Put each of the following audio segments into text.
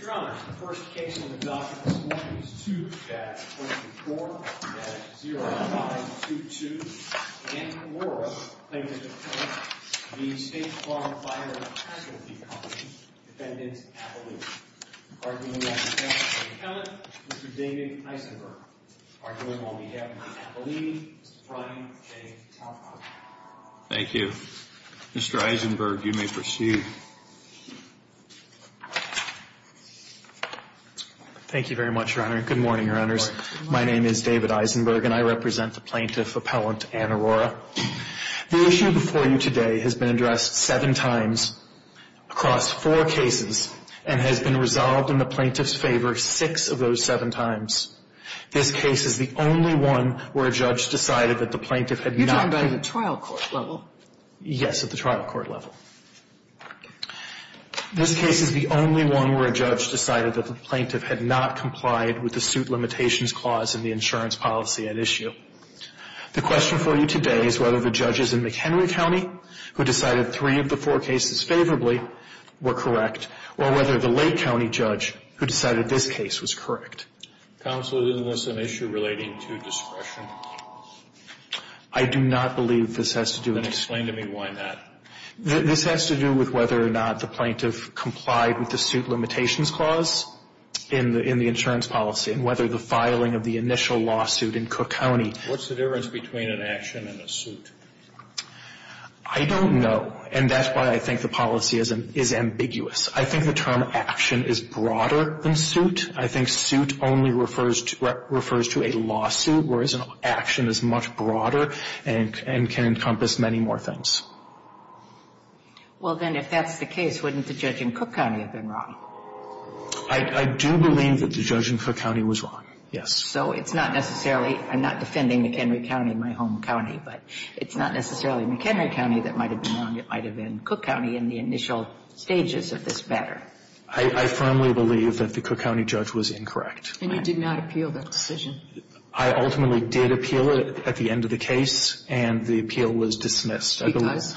Your Honor, the first case on the docket this morning is 2-4-0-5-2-2. Danica Morra, plaintiff's attorney, v. State Farm Fire & Casualty Co. Defendant Appellini. Arguing on behalf of the attorney, Mr. David Eisenberg. Arguing on behalf of Mr. Appellini, Mr. Brian J. Talcott. Thank you. Mr. Eisenberg, you may proceed. Thank you very much, Your Honor. Good morning, Your Honors. Good morning. My name is David Eisenberg, and I represent the plaintiff appellant, Ann Arora. The issue before you today has been addressed seven times across four cases and has been resolved in the plaintiff's favor six of those seven times. This case is the only one where a judge decided that the plaintiff had not been You're talking about at the trial court level? Yes, at the trial court level. This case is the only one where a judge decided that the plaintiff had not complied with the suit limitations clause in the insurance policy at issue. The question for you today is whether the judges in McHenry County, who decided three of the four cases favorably, were correct, or whether the Lake County judge, who decided this case, was correct. Counsel, isn't this an issue relating to discretion? I do not believe this has to do with discretion. Then explain to me why not. This has to do with whether or not the plaintiff complied with the suit limitations clause in the insurance policy and whether the filing of the initial lawsuit in Cook County What's the difference between an action and a suit? I don't know. And that's why I think the policy is ambiguous. I think the term action is broader than suit. I think suit only refers to a lawsuit, whereas an action is much broader and can encompass many more things. Well, then, if that's the case, wouldn't the judge in Cook County have been wrong? I do believe that the judge in Cook County was wrong, yes. So it's not necessarily, I'm not defending McHenry County, my home county, but it's not necessarily McHenry County that might have been wrong. It might have been Cook County in the initial stages of this matter. I firmly believe that the Cook County judge was incorrect. And you did not appeal that decision? I ultimately did appeal it at the end of the case, and the appeal was dismissed. He does?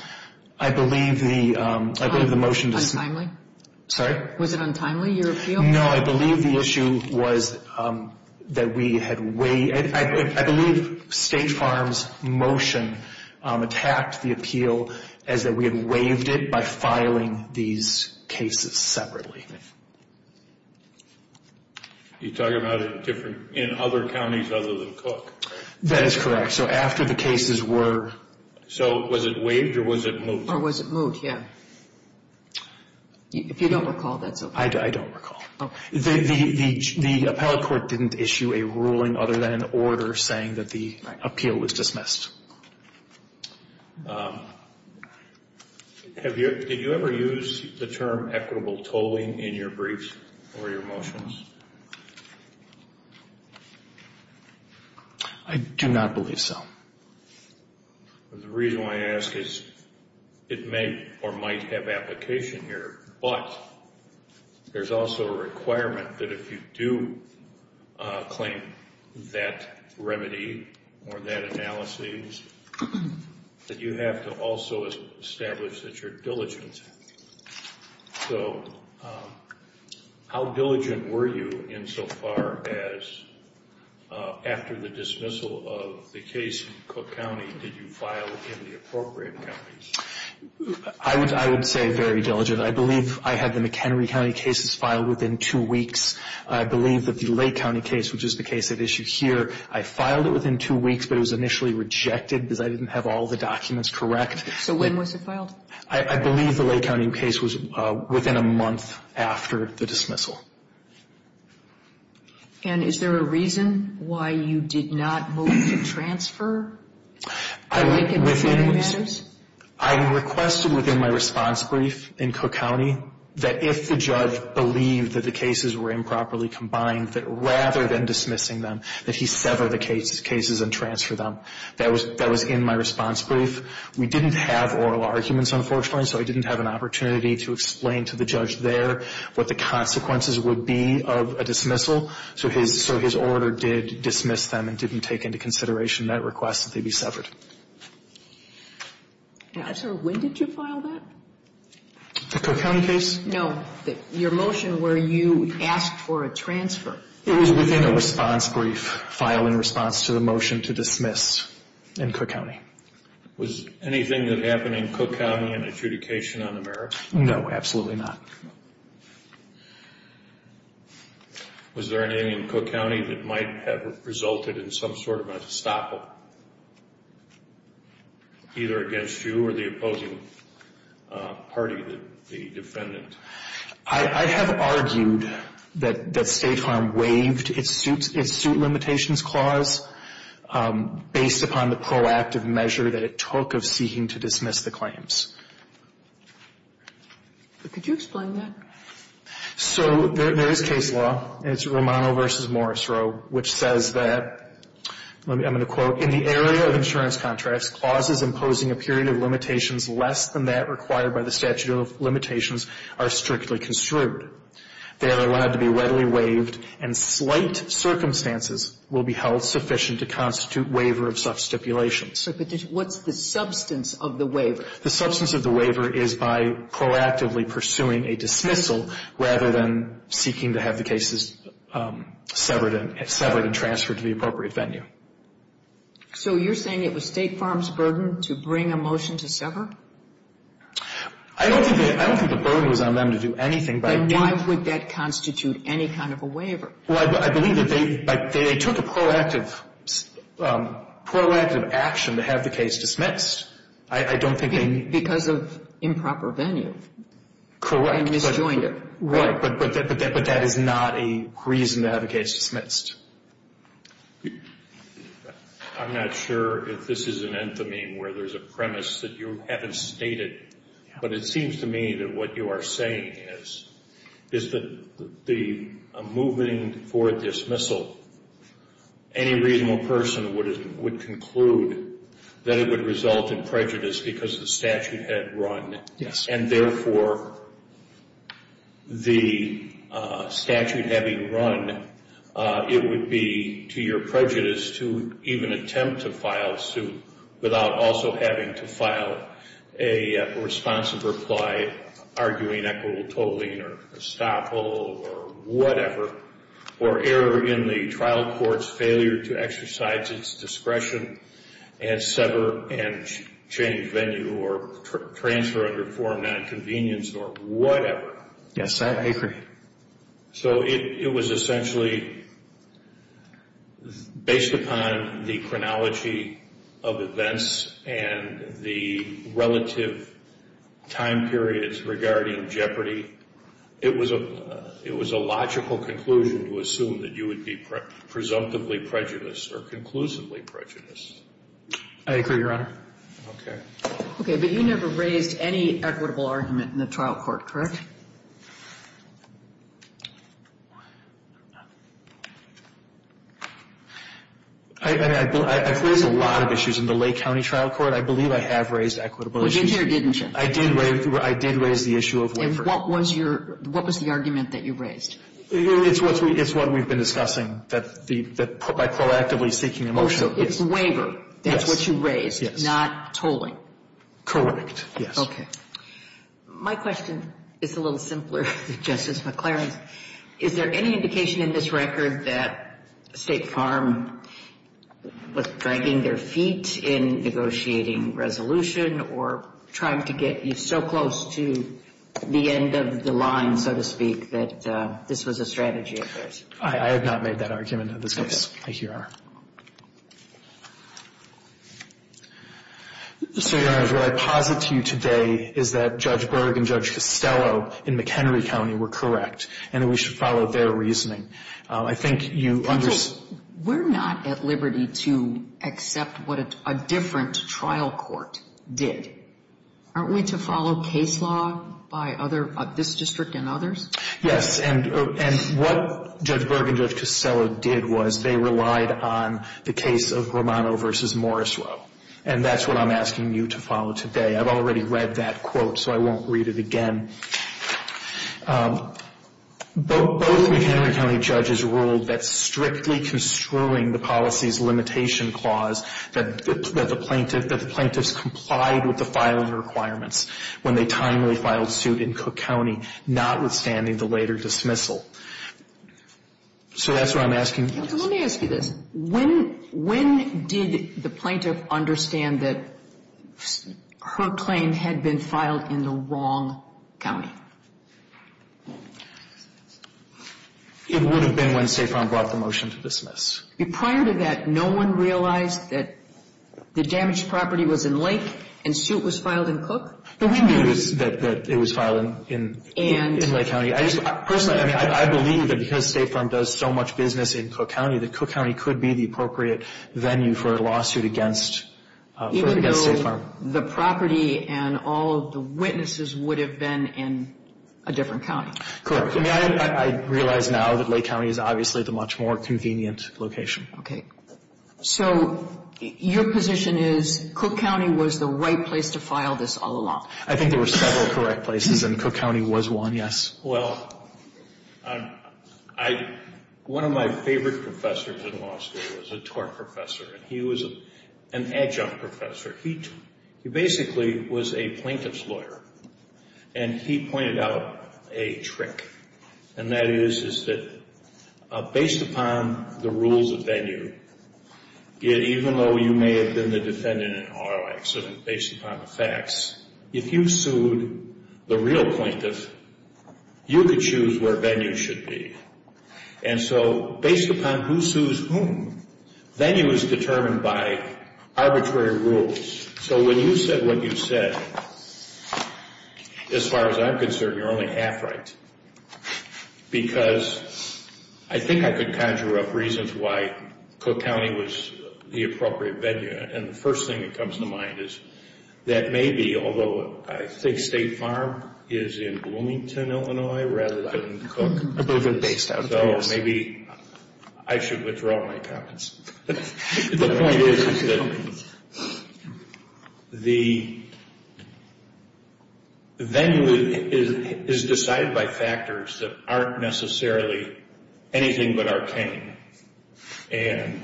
I believe the motion dismissed. Sorry? Was it untimely, your appeal? No, I believe the issue was that we had waived. I believe State Farm's motion attacked the appeal as that we had waived it by filing these cases separately. You're talking about in other counties other than Cook? That is correct. So after the cases were... So was it waived or was it moved? Or was it moved, yeah. If you don't recall, that's okay. I don't recall. Oh. The appellate court didn't issue a ruling other than an order saying that the appeal was dismissed. Did you ever use the term equitable tolling in your briefs or your motions? I do not believe so. The reason why I ask is it may or might have application here, but there's also a requirement that if you do claim that remedy or that analysis, that you have to also establish that you're diligent. So how diligent were you insofar as after the dismissal of the case in Cook County, did you file in the appropriate counties? I would say very diligent. I believe I had the McHenry County cases filed within two weeks. I believe that the Lake County case, which is the case at issue here, I filed it within two weeks, but it was initially rejected because I didn't have all the documents correct. So when was it filed? I believe the Lake County case was within a month after the dismissal. And is there a reason why you did not move to transfer? I requested within my response brief in Cook County that if the judge believed that the cases were improperly combined, that rather than dismissing them, that he sever the cases and transfer them. That was in my response brief. We didn't have oral arguments, unfortunately, so I didn't have an opportunity to explain to the judge there what the consequences would be of a dismissal. So his order did dismiss them and didn't take into consideration that request that they be severed. When did you file that? The Cook County case? No, your motion where you asked for a transfer. It was within a response brief filed in response to the motion to dismiss in Cook County. Was anything that happened in Cook County an adjudication on the merits? No, absolutely not. Was there anything in Cook County that might have resulted in some sort of an estoppel, either against you or the opposing party, the defendant? I have argued that State Farm waived its suit limitations clause based upon the proactive measure that it took of seeking to dismiss the claims. Could you explain that? So there is case law. It's Romano v. Morrisroe, which says that, I'm going to quote, in the area of insurance contracts, clauses imposing a period of limitations less than that required by the statute of limitations are strictly construed. They are allowed to be readily waived and slight circumstances will be held sufficient to constitute waiver of such stipulations. But what's the substance of the waiver? The substance of the waiver is by proactively pursuing a dismissal rather than seeking to have the cases severed and transferred to the appropriate venue. So you're saying it was State Farm's burden to bring a motion to sever? I don't think the burden was on them to do anything. Then why would that constitute any kind of a waiver? Well, I believe that they took a proactive action to have the case dismissed. Because of improper venue. Correct. They misjoined it. Right. But that is not a reason to have a case dismissed. I'm not sure if this is an anthememe where there's a premise that you haven't stated. But it seems to me that what you are saying is that a moving for a dismissal, any reasonable person would conclude that it would result in prejudice because the statute had run. Yes. And, therefore, the statute having run, it would be to your prejudice to even attempt to file suit without also having to file a responsive reply, arguing equitable tolling or estoppel or whatever, or error in the trial court's failure to exercise its discretion and sever and change venue or transfer under form nonconvenience or whatever. Yes, I agree. So it was essentially, based upon the chronology of events and the relative time periods regarding jeopardy, it was a logical conclusion to assume that you would be presumptively prejudiced or conclusively prejudiced. I agree, Your Honor. Okay. Okay. But you never raised any equitable argument in the trial court, correct? I've raised a lot of issues in the Lake County trial court. I believe I have raised equitable issues. You did here, didn't you? I did raise the issue of waiver. And what was your – what was the argument that you raised? It's what we've been discussing, that by proactively seeking a motion. So it's waiver. That's what you raised. Yes. Not tolling. Correct. Yes. Okay. My question is a little simpler, Justice McClaren. Is there any indication in this record that State Farm was dragging their feet in negotiating resolution or trying to get you so close to the end of the line, so to speak, that this was a strategy of theirs? I have not made that argument in this case. I here are. So, Your Honor, what I posit to you today is that Judge Berg and Judge Costello in McHenry County were correct and that we should follow their reasoning. I think you understand. We're not at liberty to accept what a different trial court did. Aren't we to follow case law by other – this district and others? Yes. And what Judge Berg and Judge Costello did was they relied on the case of Romano v. Morrisroe, and that's what I'm asking you to follow today. I've already read that quote, so I won't read it again. Both McHenry County judges ruled that strictly construing the policies limitation clause that the plaintiffs complied with the filing requirements when they timely filed suit in Cook County, notwithstanding the later dismissal. So that's what I'm asking. Let me ask you this. When did the plaintiff understand that her claim had been filed in the wrong county? It would have been when Safron brought the motion to dismiss. Prior to that, no one realized that the damaged property was in Lake and suit was filed in Cook? We knew that it was filed in Lake County. Personally, I believe that because State Farm does so much business in Cook County, that Cook County could be the appropriate venue for a lawsuit against State Farm. Even though the property and all of the witnesses would have been in a different county? Correct. I realize now that Lake County is obviously the much more convenient location. Okay. So your position is Cook County was the right place to file this all along? I think there were several correct places and Cook County was one, yes. Well, one of my favorite professors in law school was a tort professor. He was an adjunct professor. He basically was a plaintiff's lawyer, and he pointed out a trick, and that is that based upon the rules of venue, even though you may have been the defendant in an auto accident based upon the facts, if you sued the real plaintiff, you could choose where venue should be. And so based upon who sues whom, venue is determined by arbitrary rules. So when you said what you said, as far as I'm concerned, you're only half right. Because I think I could conjure up reasons why Cook County was the appropriate venue, and the first thing that comes to mind is that maybe, although I think State Farm is in Bloomington, Illinois, rather than Cook, so maybe I should withdraw my comments. The point is that the venue is decided by factors that aren't necessarily anything but arcane. And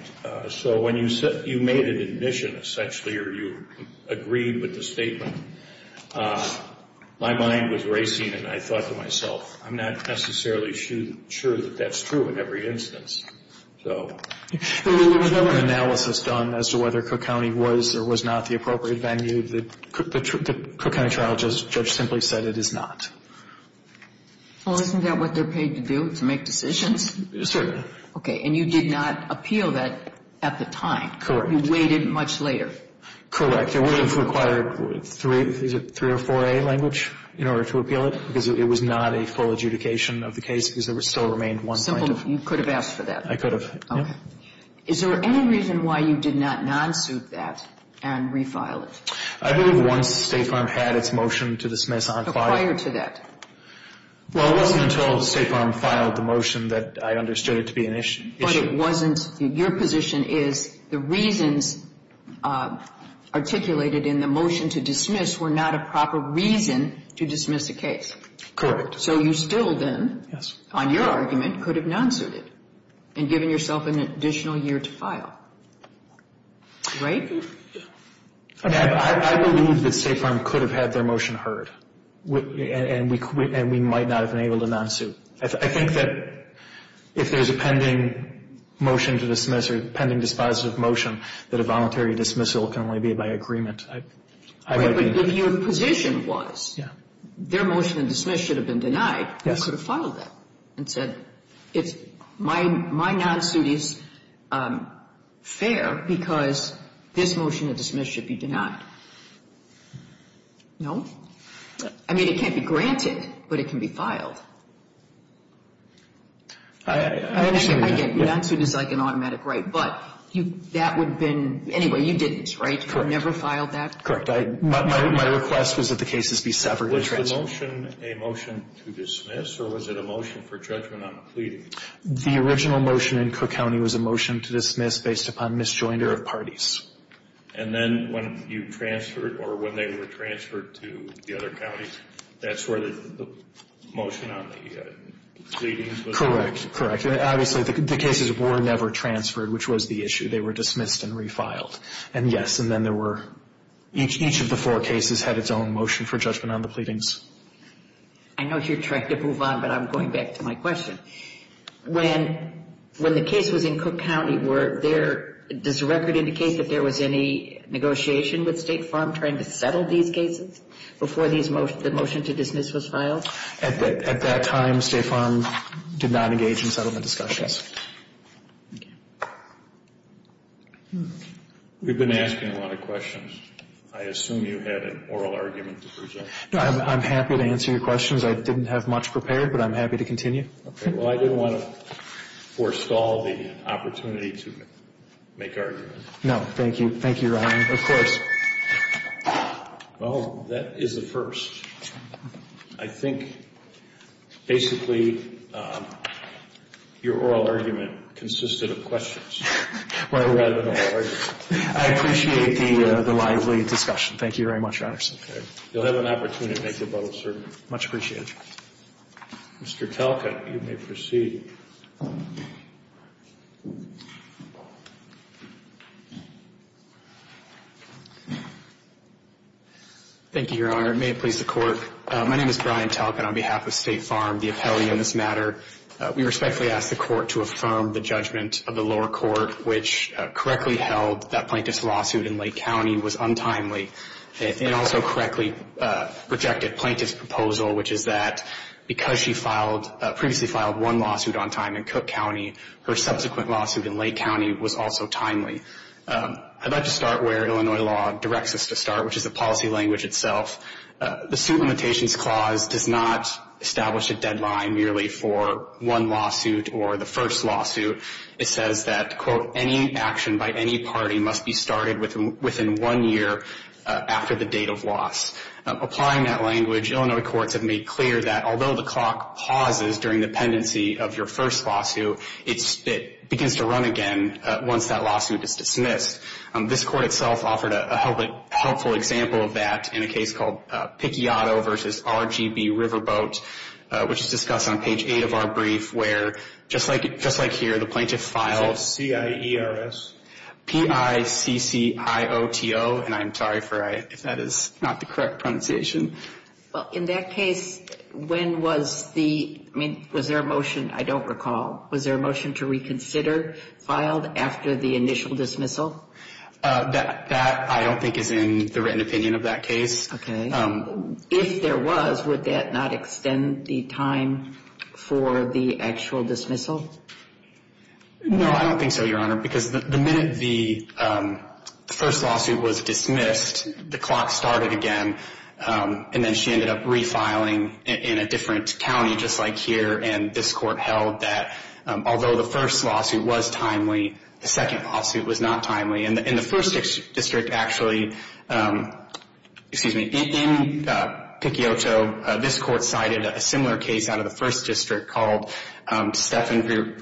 so when you made an admission, essentially, or you agreed with the statement, my mind was racing and I thought to myself, I'm not necessarily sure that that's true in every instance. So there was no analysis done as to whether Cook County was or was not the appropriate venue. The Cook County trial judge simply said it is not. Well, isn't that what they're paid to do, to make decisions? Yes, sir. Okay. And you did not appeal that at the time. Correct. You waited much later. Correct. It would have required three or four A language in order to appeal it, because it was not a full adjudication of the case because there still remained one plaintiff. You could have asked for that. I could have. Okay. Is there any reason why you did not non-suit that and refile it? I believe once State Farm had its motion to dismiss on file. So prior to that. Well, it wasn't until State Farm filed the motion that I understood it to be an issue. But it wasn't. Your position is the reasons articulated in the motion to dismiss were not a proper reason to dismiss a case. Correct. So you still then, on your argument, could have non-suited and given yourself an additional year to file. Right? I believe that State Farm could have had their motion heard, and we might not have been able to non-suit. I think that if there's a pending motion to dismiss or pending dispositive motion, that a voluntary dismissal can only be by agreement. But your position was their motion to dismiss should have been denied. Yes. You could have filed that and said my non-suit is fair because this motion to dismiss should be denied. No? I mean, it can't be granted, but it can be filed. I understand that. I get it. Non-suit is like an automatic right. But that would have been – anyway, you didn't, right? You never filed that? Correct. My request was that the cases be severed or transferred. Was the motion a motion to dismiss or was it a motion for judgment on the pleading? The original motion in Cook County was a motion to dismiss based upon misjoinder of parties. And then when you transferred or when they were transferred to the other counties, that's where the motion on the pleadings was? Correct. Correct. Obviously, the cases were never transferred, which was the issue. They were dismissed and refiled. And, yes, and then there were – each of the four cases had its own motion for judgment on the pleadings. I know you're trying to move on, but I'm going back to my question. When the case was in Cook County, were there – does the record indicate that there was any negotiation with State Farm trying to settle these cases before the motion to dismiss was filed? At that time, State Farm did not engage in settlement discussions. We've been asking a lot of questions. I assume you had an oral argument to present. I'm happy to answer your questions. I didn't have much prepared, but I'm happy to continue. Okay. Well, I didn't want to forestall the opportunity to make arguments. No. Thank you. Thank you, Your Honor. Of course. Well, that is a first. I think, basically, your oral argument consisted of questions rather than oral arguments. I appreciate the lively discussion. Thank you very much, Your Honor. Okay. You'll have an opportunity to make your vote, sir. Much appreciated. Mr. Talcott, you may proceed. Thank you, Your Honor. It may have pleased the Court. My name is Brian Talcott on behalf of State Farm. The appellee in this matter, we respectfully ask the Court to affirm the judgment of the lower court, which correctly held that plaintiff's lawsuit in Lake County was untimely. It also correctly projected plaintiff's proposal, which is that because she filed, previously filed one lawsuit on time in Cook County, her subsequent lawsuit in Lake County was also timely. I'd like to start where Illinois law directs us to start, which is the policy language itself. The suit limitations clause does not establish a deadline merely for one lawsuit or the first lawsuit. It says that, quote, any action by any party must be started within one year after the date of loss. Applying that language, Illinois courts have made clear that although the clock pauses during the pendency of your first lawsuit, it begins to run again once that lawsuit is dismissed. This court itself offered a helpful example of that in a case called Picciotto v. RGB Riverboat, which is discussed on page 8 of our brief, where just like here, the plaintiff files. Is it C-I-E-R-S? P-I-C-C-I-O-T-O, and I'm sorry if that is not the correct pronunciation. Well, in that case, when was the, I mean, was there a motion, I don't recall, was there a motion to reconsider filed after the initial dismissal? That I don't think is in the written opinion of that case. Okay. If there was, would that not extend the time for the actual dismissal? No, I don't think so, Your Honor, because the minute the first lawsuit was dismissed, the clock started again, and then she ended up refiling in a different county just like here, and this court held that although the first lawsuit was timely, the second lawsuit was not timely. And the first district actually, excuse me, in Picciotto, this court cited a similar case out of the first district called Stephan v.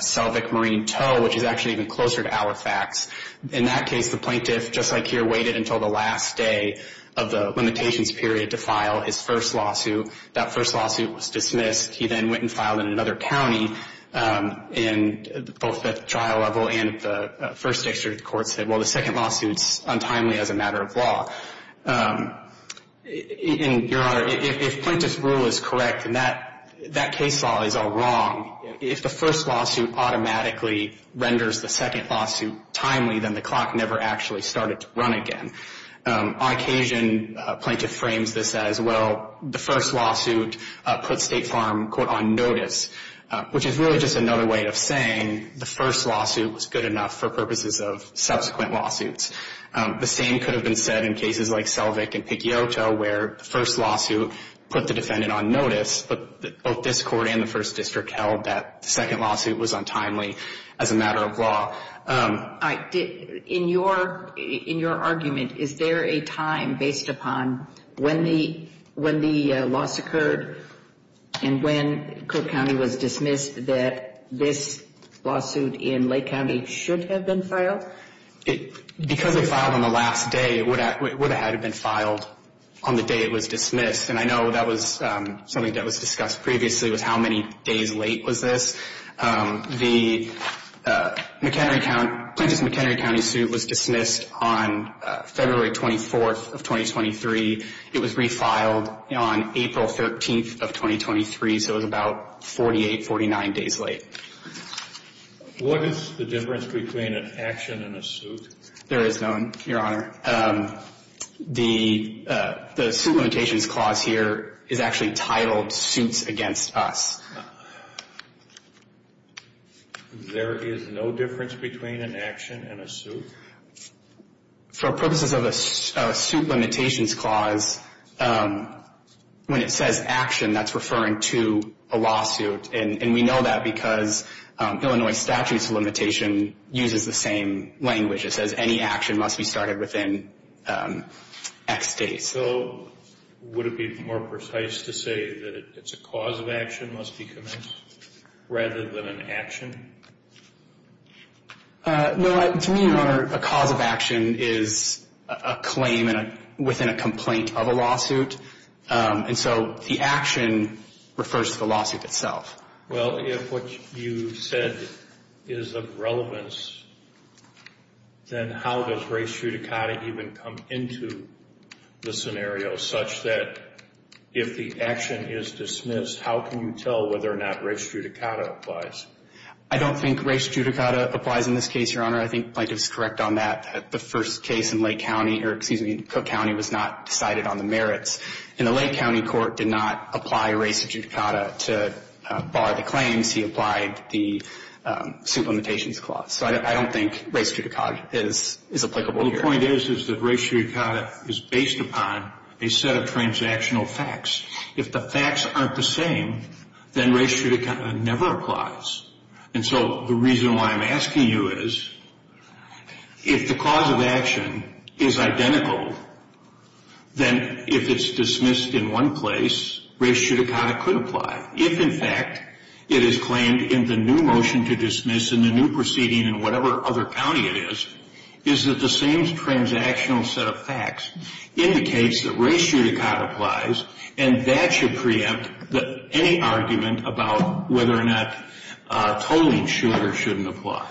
Selvig Marine Toe, which is actually even closer to Alifax. In that case, the plaintiff, just like here, waited until the last day of the limitations period to file his first lawsuit. That first lawsuit was dismissed. He then went and filed in another county, and both at the trial level and at the first district court said, well, the second lawsuit is untimely as a matter of law. And, Your Honor, if plaintiff's rule is correct and that case law is all wrong, if the first lawsuit automatically renders the second lawsuit timely, then the clock never actually started to run again. On occasion, plaintiff frames this as, well, the first lawsuit put State Farm, quote, on notice, which is really just another way of saying the first lawsuit was good enough for purposes of subsequent lawsuits. The same could have been said in cases like Selvig and Picciotto where the first lawsuit put the defendant on notice, but both this court and the first district held that the second lawsuit was untimely as a matter of law. In your argument, is there a time based upon when the loss occurred and when Cook County was dismissed that this lawsuit in Lake County should have been filed? Because it filed on the last day, it would have had been filed on the day it was dismissed, and I know that was something that was discussed previously was how many days late was this. The Plaintiff's McHenry County suit was dismissed on February 24th of 2023. It was refiled on April 13th of 2023, so it was about 48, 49 days late. What is the difference between an action and a suit? There is none, Your Honor. The suit limitations clause here is actually titled Suits Against Us. There is no difference between an action and a suit? For purposes of a suit limitations clause, when it says action, that's referring to a lawsuit, and we know that because Illinois statutes limitation uses the same language. It says any action must be started within X days. So would it be more precise to say that it's a cause of action must be commenced rather than an action? No. To me, Your Honor, a cause of action is a claim within a complaint of a lawsuit, and so the action refers to the lawsuit itself. Well, if what you said is of relevance, then how does race judicata even come into the scenario such that if the action is dismissed, how can you tell whether or not race judicata applies? I don't think race judicata applies in this case, Your Honor. I think the Plaintiff's correct on that. The first case in Lake County, or excuse me, Cook County, was not decided on the merits, and the Lake County court did not apply race judicata to bar the claims. He applied the suit limitations clause. So I don't think race judicata is applicable here. Well, the point is, is that race judicata is based upon a set of transactional facts. If the facts aren't the same, then race judicata never applies. And so the reason why I'm asking you is, if the cause of action is identical, then if it's dismissed in one place, race judicata could apply. If, in fact, it is claimed in the new motion to dismiss in the new proceeding in whatever other county it is, is that the same transactional set of facts indicates that race judicata applies, and that should preempt any argument about whether or not tolling should or shouldn't apply.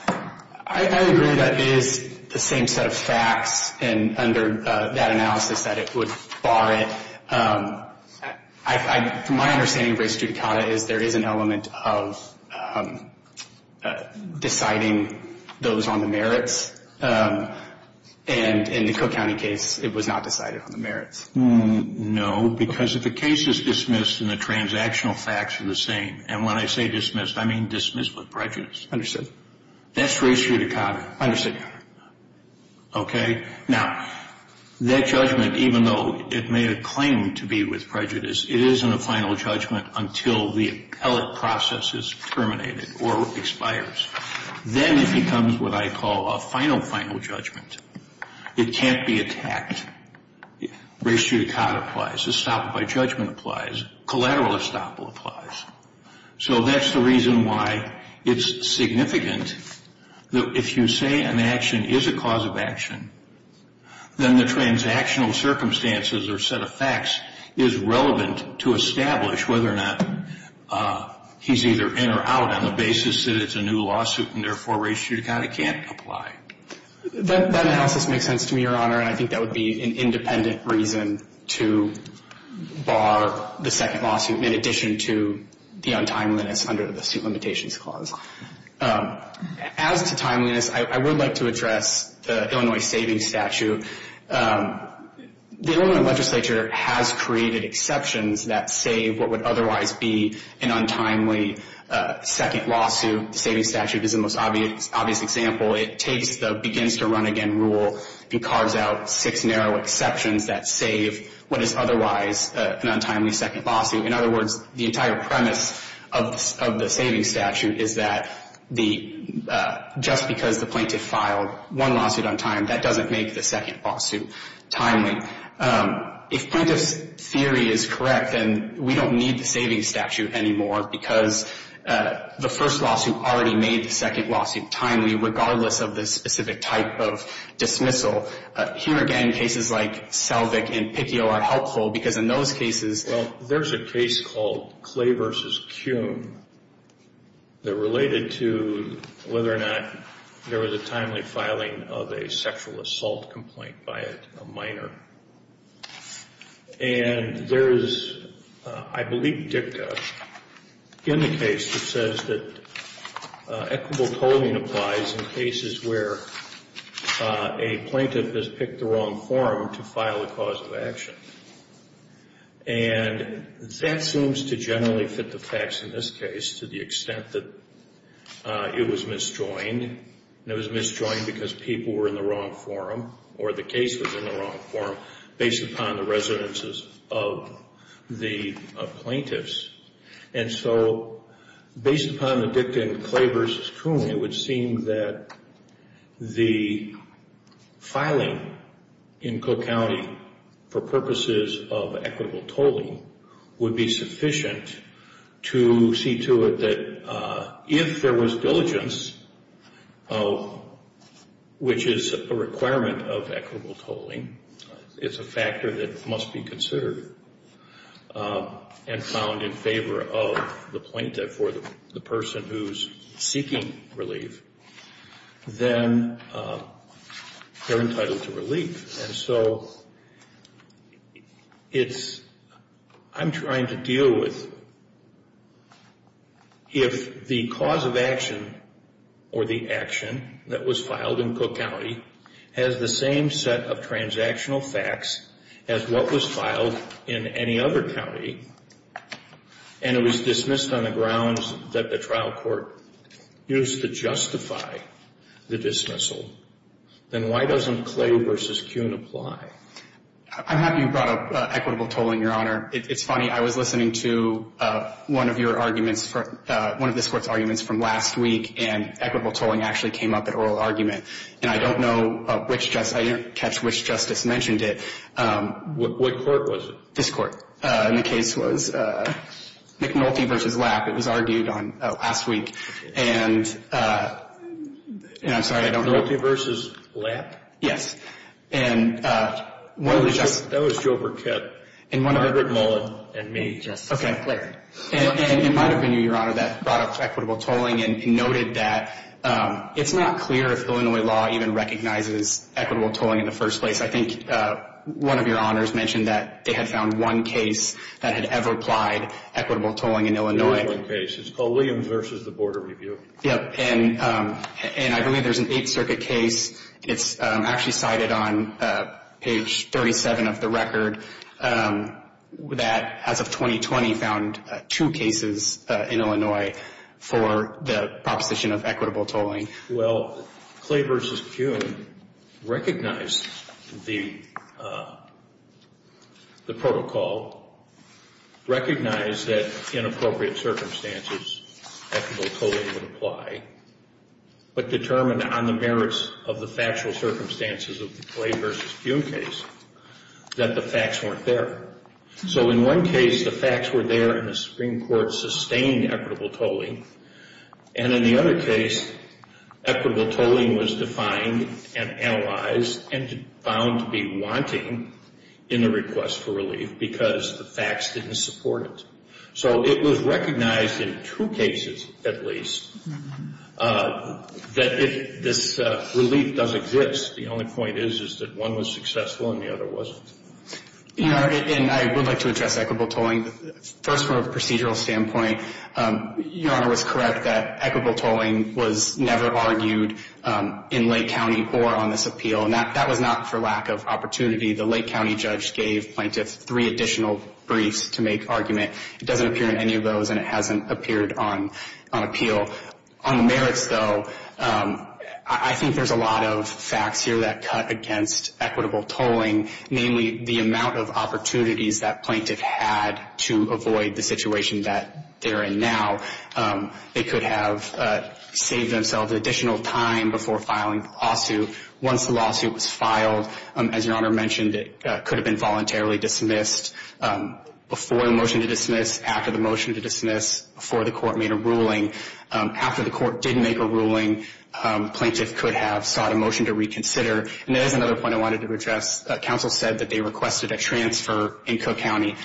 I agree that it is the same set of facts, and under that analysis that it would bar it. My understanding of race judicata is there is an element of deciding those on the merits, and in the Cook County case, it was not decided on the merits. No, because if the case is dismissed and the transactional facts are the same, and when I say dismissed, I mean dismissed with prejudice. That's race judicata. Understood. Okay? Now, that judgment, even though it may have claimed to be with prejudice, it isn't a final judgment until the appellate process is terminated or expires. Then it becomes what I call a final, final judgment. It can't be attacked. Race judicata applies. Estoppel by judgment applies. Collateral estoppel applies. So that's the reason why it's significant that if you say an action is a cause of action, then the transactional circumstances or set of facts is relevant to establish whether or not he's either in or out on the basis that it's a new lawsuit and therefore race judicata can't apply. That analysis makes sense to me, Your Honor, and I think that would be an independent reason to bar the second lawsuit in addition to the untimeliness under the suit limitations clause. As to timeliness, I would like to address the Illinois savings statute. The Illinois legislature has created exceptions that save what would otherwise be an untimely second lawsuit. The savings statute is the most obvious example. It takes the begins-to-run-again rule and carves out six narrow exceptions that save what is otherwise an untimely second lawsuit. In other words, the entire premise of the savings statute is that just because the plaintiff filed one lawsuit on time, that doesn't make the second lawsuit timely. If plaintiff's theory is correct, then we don't need the savings statute anymore because the first lawsuit already made the second lawsuit timely, regardless of the specific type of dismissal. Here again, cases like Selvig and Piccio are helpful because in those cases... Well, there's a case called Clay v. Kuhn that related to whether or not there was a timely filing of a sexual assault complaint by a minor. And there is, I believe, dicta in the case that says that equitable coding applies in cases where a plaintiff has picked the wrong forum to file a cause of action. And that seems to generally fit the facts in this case to the extent that it was misjoined. And it was misjoined because people were in the wrong forum or the case was in the wrong forum based upon the residences of the plaintiffs. And so based upon the dicta in Clay v. Kuhn, it would seem that the filing in Cook County for purposes of equitable tolling would be sufficient to see to it that if there was diligence, which is a requirement of equitable tolling, it's a factor that must be considered and found in favor of the plaintiff or the person who's seeking relief, then they're entitled to relief. And so it's, I'm trying to deal with if the cause of action or the action that was filed in Cook County has the same set of transactional facts as what was filed in any other county and it was dismissed on the grounds that the trial court used to justify the dismissal, then why doesn't Clay v. Kuhn apply? I'm happy you brought up equitable tolling, Your Honor. It's funny. I was listening to one of your arguments for, one of this Court's arguments from last week, and equitable tolling actually came up at oral argument. And I don't know which Justice, I didn't catch which Justice mentioned it. What Court was it? This Court. And the case was McNulty v. Lapp. It was argued on last week. And I'm sorry, I don't know. McNulty v. Lapp? Yes. That was Joe Burkett. Robert Mullen and me, Justice McClary. And it might have been you, Your Honor, that brought up equitable tolling and noted that it's not clear if Illinois law even recognizes equitable tolling in the first place. I think one of your Honors mentioned that they had found one case that had ever applied equitable tolling in Illinois. There is one case. It's called Williams v. The Border Review. Yes. And I believe there's an Eighth Circuit case. It's actually cited on page 37 of the record that, as of 2020, found two cases in Illinois for the proposition of equitable tolling. Well, Clay v. Kuhn recognized the protocol, recognized that, in appropriate circumstances, equitable tolling would apply, but determined on the merits of the factual circumstances of the Clay v. Kuhn case that the facts weren't there. So in one case, the facts were there, and the Supreme Court sustained equitable tolling. And in the other case, equitable tolling was defined and analyzed and found to be wanting in the request for relief because the facts didn't support it. So it was recognized in two cases, at least, that this relief does exist. The only point is, is that one was successful and the other wasn't. Your Honor, and I would like to address equitable tolling first from a procedural standpoint. Your Honor was correct that equitable tolling was never argued in Lake County or on this appeal, and that was not for lack of opportunity. The Lake County judge gave plaintiffs three additional briefs to make argument. It doesn't appear in any of those, and it hasn't appeared on appeal. On the merits, though, I think there's a lot of facts here that cut against equitable tolling, namely the amount of opportunities that plaintiff had to avoid the situation that they're in now. They could have saved themselves additional time before filing the lawsuit. Once the lawsuit was filed, as Your Honor mentioned, it could have been voluntarily dismissed before the motion to dismiss, after the motion to dismiss, before the court made a ruling. After the court did make a ruling, plaintiff could have sought a motion to reconsider. And there is another point I wanted to address. Counsel said that they requested a transfer in Cook County.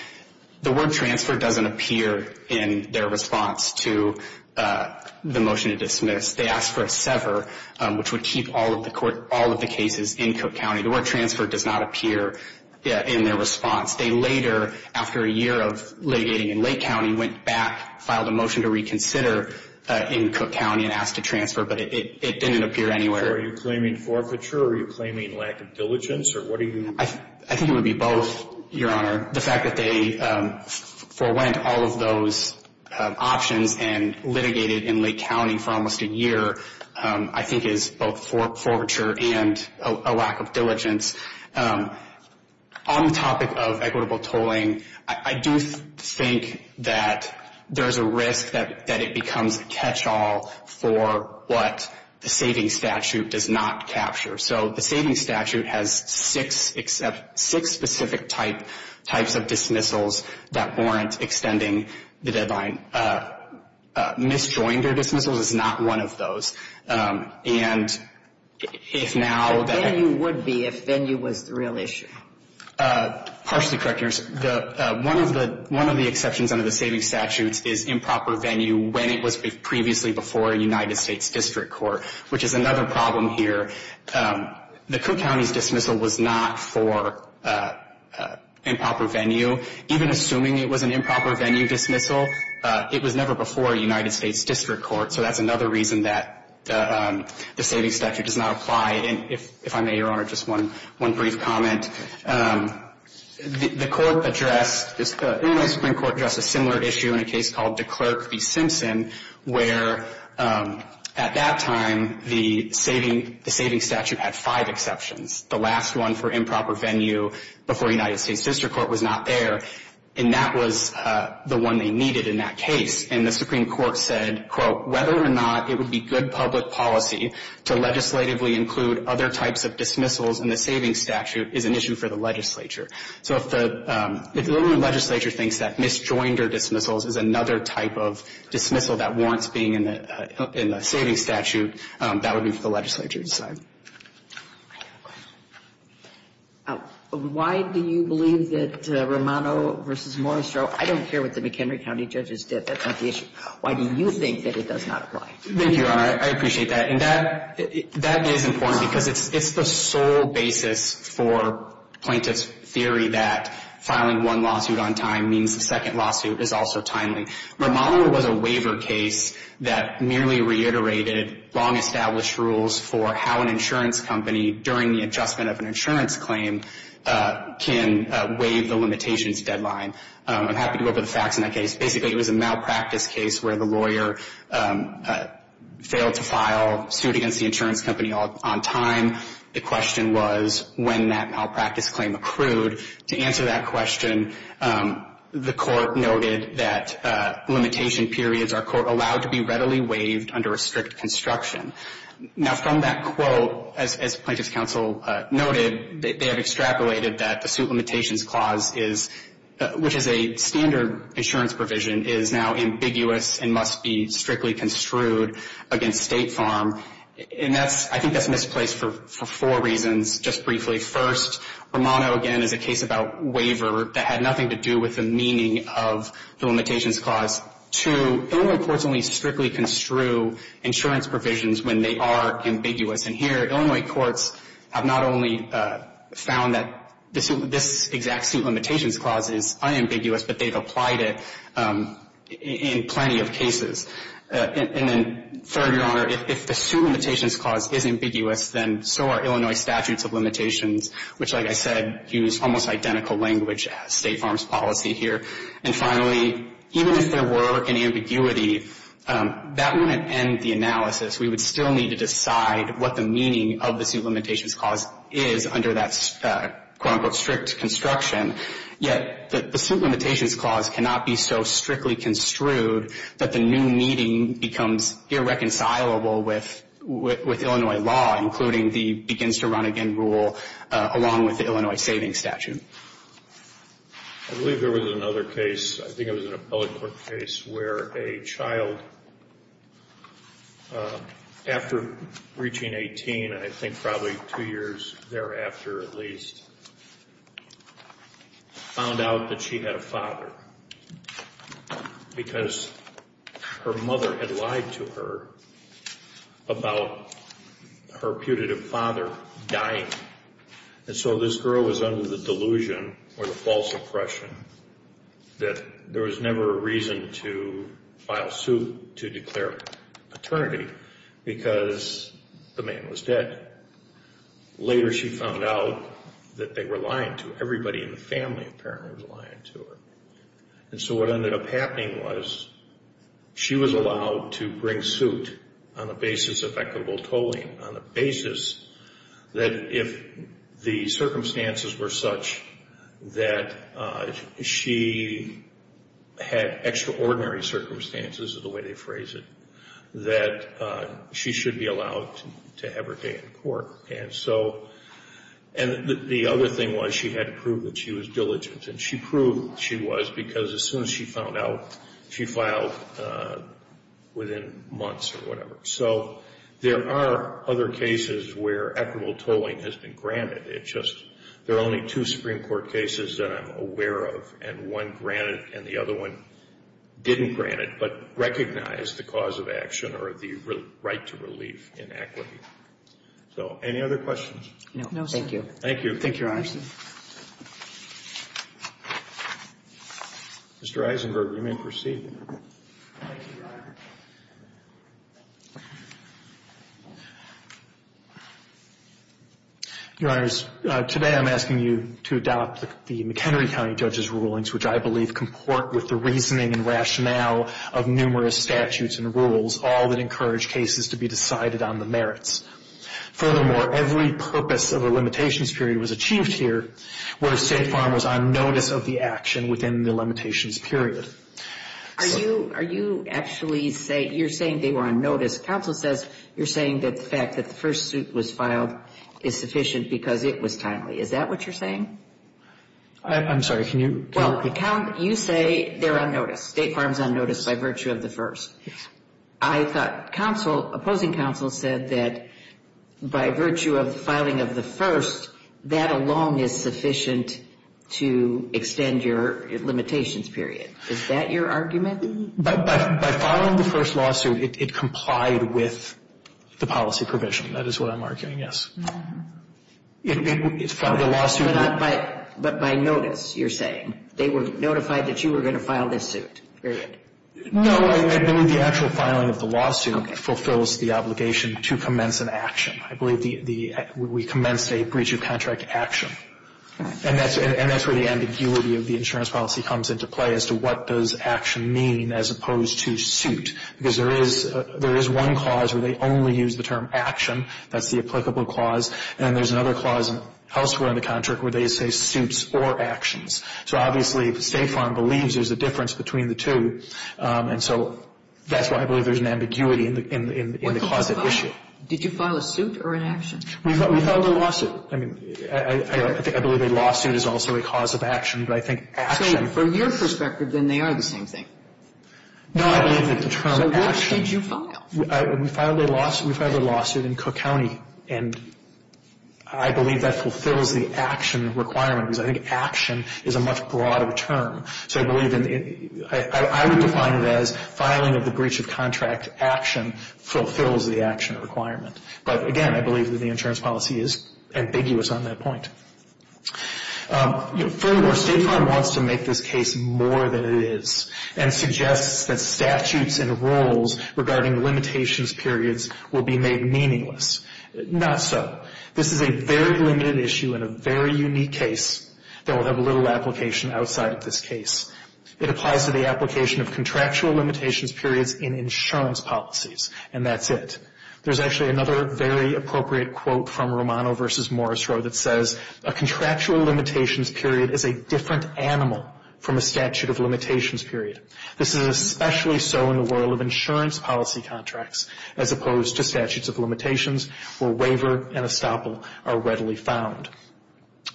The word transfer doesn't appear in their response to the motion to dismiss. They asked for a sever, which would keep all of the cases in Cook County. The word transfer does not appear in their response. They later, after a year of litigating in Lake County, went back, filed a motion to reconsider in Cook County and asked to transfer, but it didn't appear anywhere. So are you claiming forfeiture or are you claiming lack of diligence or what do you mean? I think it would be both, Your Honor. The fact that they forwent all of those options and litigated in Lake County for almost a year, I think is both forfeiture and a lack of diligence. On the topic of equitable tolling, I do think that there is a risk that it becomes a catch-all for what the savings statute does not capture. So the savings statute has six specific types of dismissals that warrant extending the deadline. Misjoining their dismissals is not one of those. But venue would be if venue was the real issue. Partially correct, Your Honor. One of the exceptions under the savings statute is improper venue when it was previously before a United States district court, which is another problem here. The Cook County's dismissal was not for improper venue. Even assuming it was an improper venue dismissal, it was never before a United States district court. So that's another reason that the savings statute does not apply. And if I may, Your Honor, just one brief comment. The court addressed, Illinois Supreme Court addressed a similar issue in a case called DeClercq v. Simpson, where at that time the savings statute had five exceptions. The last one for improper venue before a United States district court was not there, and that was the one they needed in that case. And the Supreme Court said, quote, whether or not it would be good public policy to legislatively include other types of dismissals in the savings statute is an issue for the legislature. So if the Illinois legislature thinks that misjoinder dismissals is another type of dismissal that warrants being in the savings statute, that would be for the legislature to decide. Why do you believe that Romano v. Moristro I don't care what the McHenry County judges did, that's not the issue. Why do you think that it does not apply? Thank you, Your Honor. I appreciate that. And that is important because it's the sole basis for plaintiff's theory that filing one lawsuit on time means the second lawsuit is also timely. Romano was a waiver case that merely reiterated long-established rules for how an insurance company, during the adjustment of an insurance claim, can waive the limitations deadline. I'm happy to go over the facts in that case. Basically, it was a malpractice case where the lawyer failed to file suit against the insurance company on time. The question was when that malpractice claim accrued. To answer that question, the court noted that limitation periods are, quote, allowed to be readily waived under a strict construction. Now, from that quote, as plaintiff's counsel noted, they have extrapolated that the suit limitations clause is, which is a standard insurance provision, is now ambiguous and must be strictly construed against State Farm. And I think that's misplaced for four reasons. Just briefly, first, Romano, again, is a case about waiver that had nothing to do with the meaning of the limitations clause. Two, Illinois courts only strictly construe insurance provisions when they are ambiguous. And here, Illinois courts have not only found that this exact suit limitations clause is unambiguous, but they've applied it in plenty of cases. And then third, Your Honor, if the suit limitations clause is ambiguous, then so are Illinois statutes of limitations, which, like I said, use almost identical language as State Farm's policy here. And finally, even if there were an ambiguity, that wouldn't end the analysis. We would still need to decide what the meaning of the suit limitations clause is under that quote-unquote strict construction. Yet the suit limitations clause cannot be so strictly construed that the new meaning becomes irreconcilable with Illinois law, including the begins-to-run-again rule, along with the Illinois savings statute. I believe there was another case. I think it was an appellate court case where a child, after reaching 18, I think probably two years thereafter at least, found out that she had a father because her mother had lied to her about her putative father dying. And so this girl was under the delusion or the false impression that there was never a reason to file suit to declare paternity because the man was dead. Later she found out that they were lying to her. Everybody in the family apparently was lying to her. And so what ended up happening was she was allowed to bring suit on the basis of equitable tolling, on the basis that if the circumstances were such that she had extraordinary circumstances is the way they phrase it, that she should be allowed to have her case in court. And the other thing was she had to prove that she was diligent. And she proved she was because as soon as she found out, she filed within months or whatever. So there are other cases where equitable tolling has been granted. It's just there are only two Supreme Court cases that I'm aware of, and one granted and the other one didn't grant it but recognized the cause of action or the right to relief in equity. So any other questions? No, sir. Thank you. Thank you, Your Honor. Mr. Eisenberg, you may proceed. Thank you, Your Honor. Your Honors, today I'm asking you to adopt the McHenry County judge's rulings, which I believe comport with the reasoning and rationale of numerous statutes and rules, all that encourage cases to be decided on the merits. Furthermore, every purpose of a limitations period was achieved here where State Farm was on notice of the action within the limitations period. Are you actually saying you're saying they were on notice? Counsel says you're saying that the fact that the first suit was filed is sufficient because it was timely. Is that what you're saying? I'm sorry. Well, you say they're on notice. State Farm's on notice by virtue of the first. Yes. I thought counsel, opposing counsel, said that by virtue of the filing of the first, that alone is sufficient to extend your limitations period. Is that your argument? By filing the first lawsuit, it complied with the policy provision. That is what I'm arguing, yes. It filed the lawsuit. But by notice, you're saying. They were notified that you were going to file this suit, period. No. I believe the actual filing of the lawsuit fulfills the obligation to commence an action. I believe the we commenced a breach of contract action. And that's where the ambiguity of the insurance policy comes into play as to what does action mean as opposed to suit. Because there is one clause where they only use the term action. That's the applicable clause. And there's another clause elsewhere in the contract where they say suits or actions. So obviously, State Farm believes there's a difference between the two. And so that's why I believe there's an ambiguity in the cause of issue. Did you file a suit or an action? We filed a lawsuit. I mean, I believe a lawsuit is also a cause of action. But I think action. So from your perspective, then they are the same thing. No, I believe that the term action. So which did you file? We filed a lawsuit in Cook County. And I believe that fulfills the action requirement. Because I think action is a much broader term. So I believe in the ‑‑ I would define it as filing of the breach of contract action fulfills the action requirement. But, again, I believe that the insurance policy is ambiguous on that point. Furthermore, State Farm wants to make this case more than it is and suggests that statutes and rules regarding limitations periods will be made meaningless. Not so. This is a very limited issue and a very unique case that will have little application outside of this case. It applies to the application of contractual limitations periods in insurance policies. And that's it. There's actually another very appropriate quote from Romano v. Morrisroe that says, a contractual limitations period is a different animal from a statute of limitations period. This is especially so in the world of insurance policy contracts, as opposed to statutes of limitations where waiver and estoppel are readily found.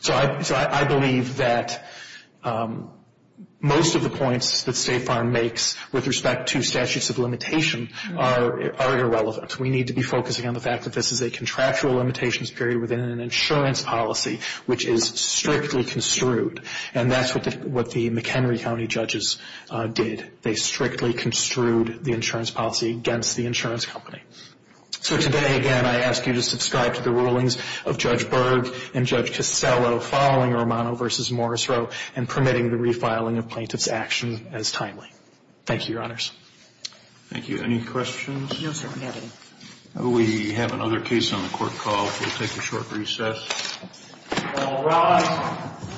So I believe that most of the points that State Farm makes with respect to statutes of limitation are irrelevant. We need to be focusing on the fact that this is a contractual limitations period within an insurance policy, which is strictly construed. And that's what the McHenry County judges did. They strictly construed the insurance policy against the insurance company. So today, again, I ask you to subscribe to the rulings of Judge Berg and Judge Casello following Romano v. Morrisroe and permitting the refiling of plaintiff's action as timely. Thank you, Your Honors. Thank you. Any questions? No, sir. We have another case on the court call, so we'll take a short recess. All rise.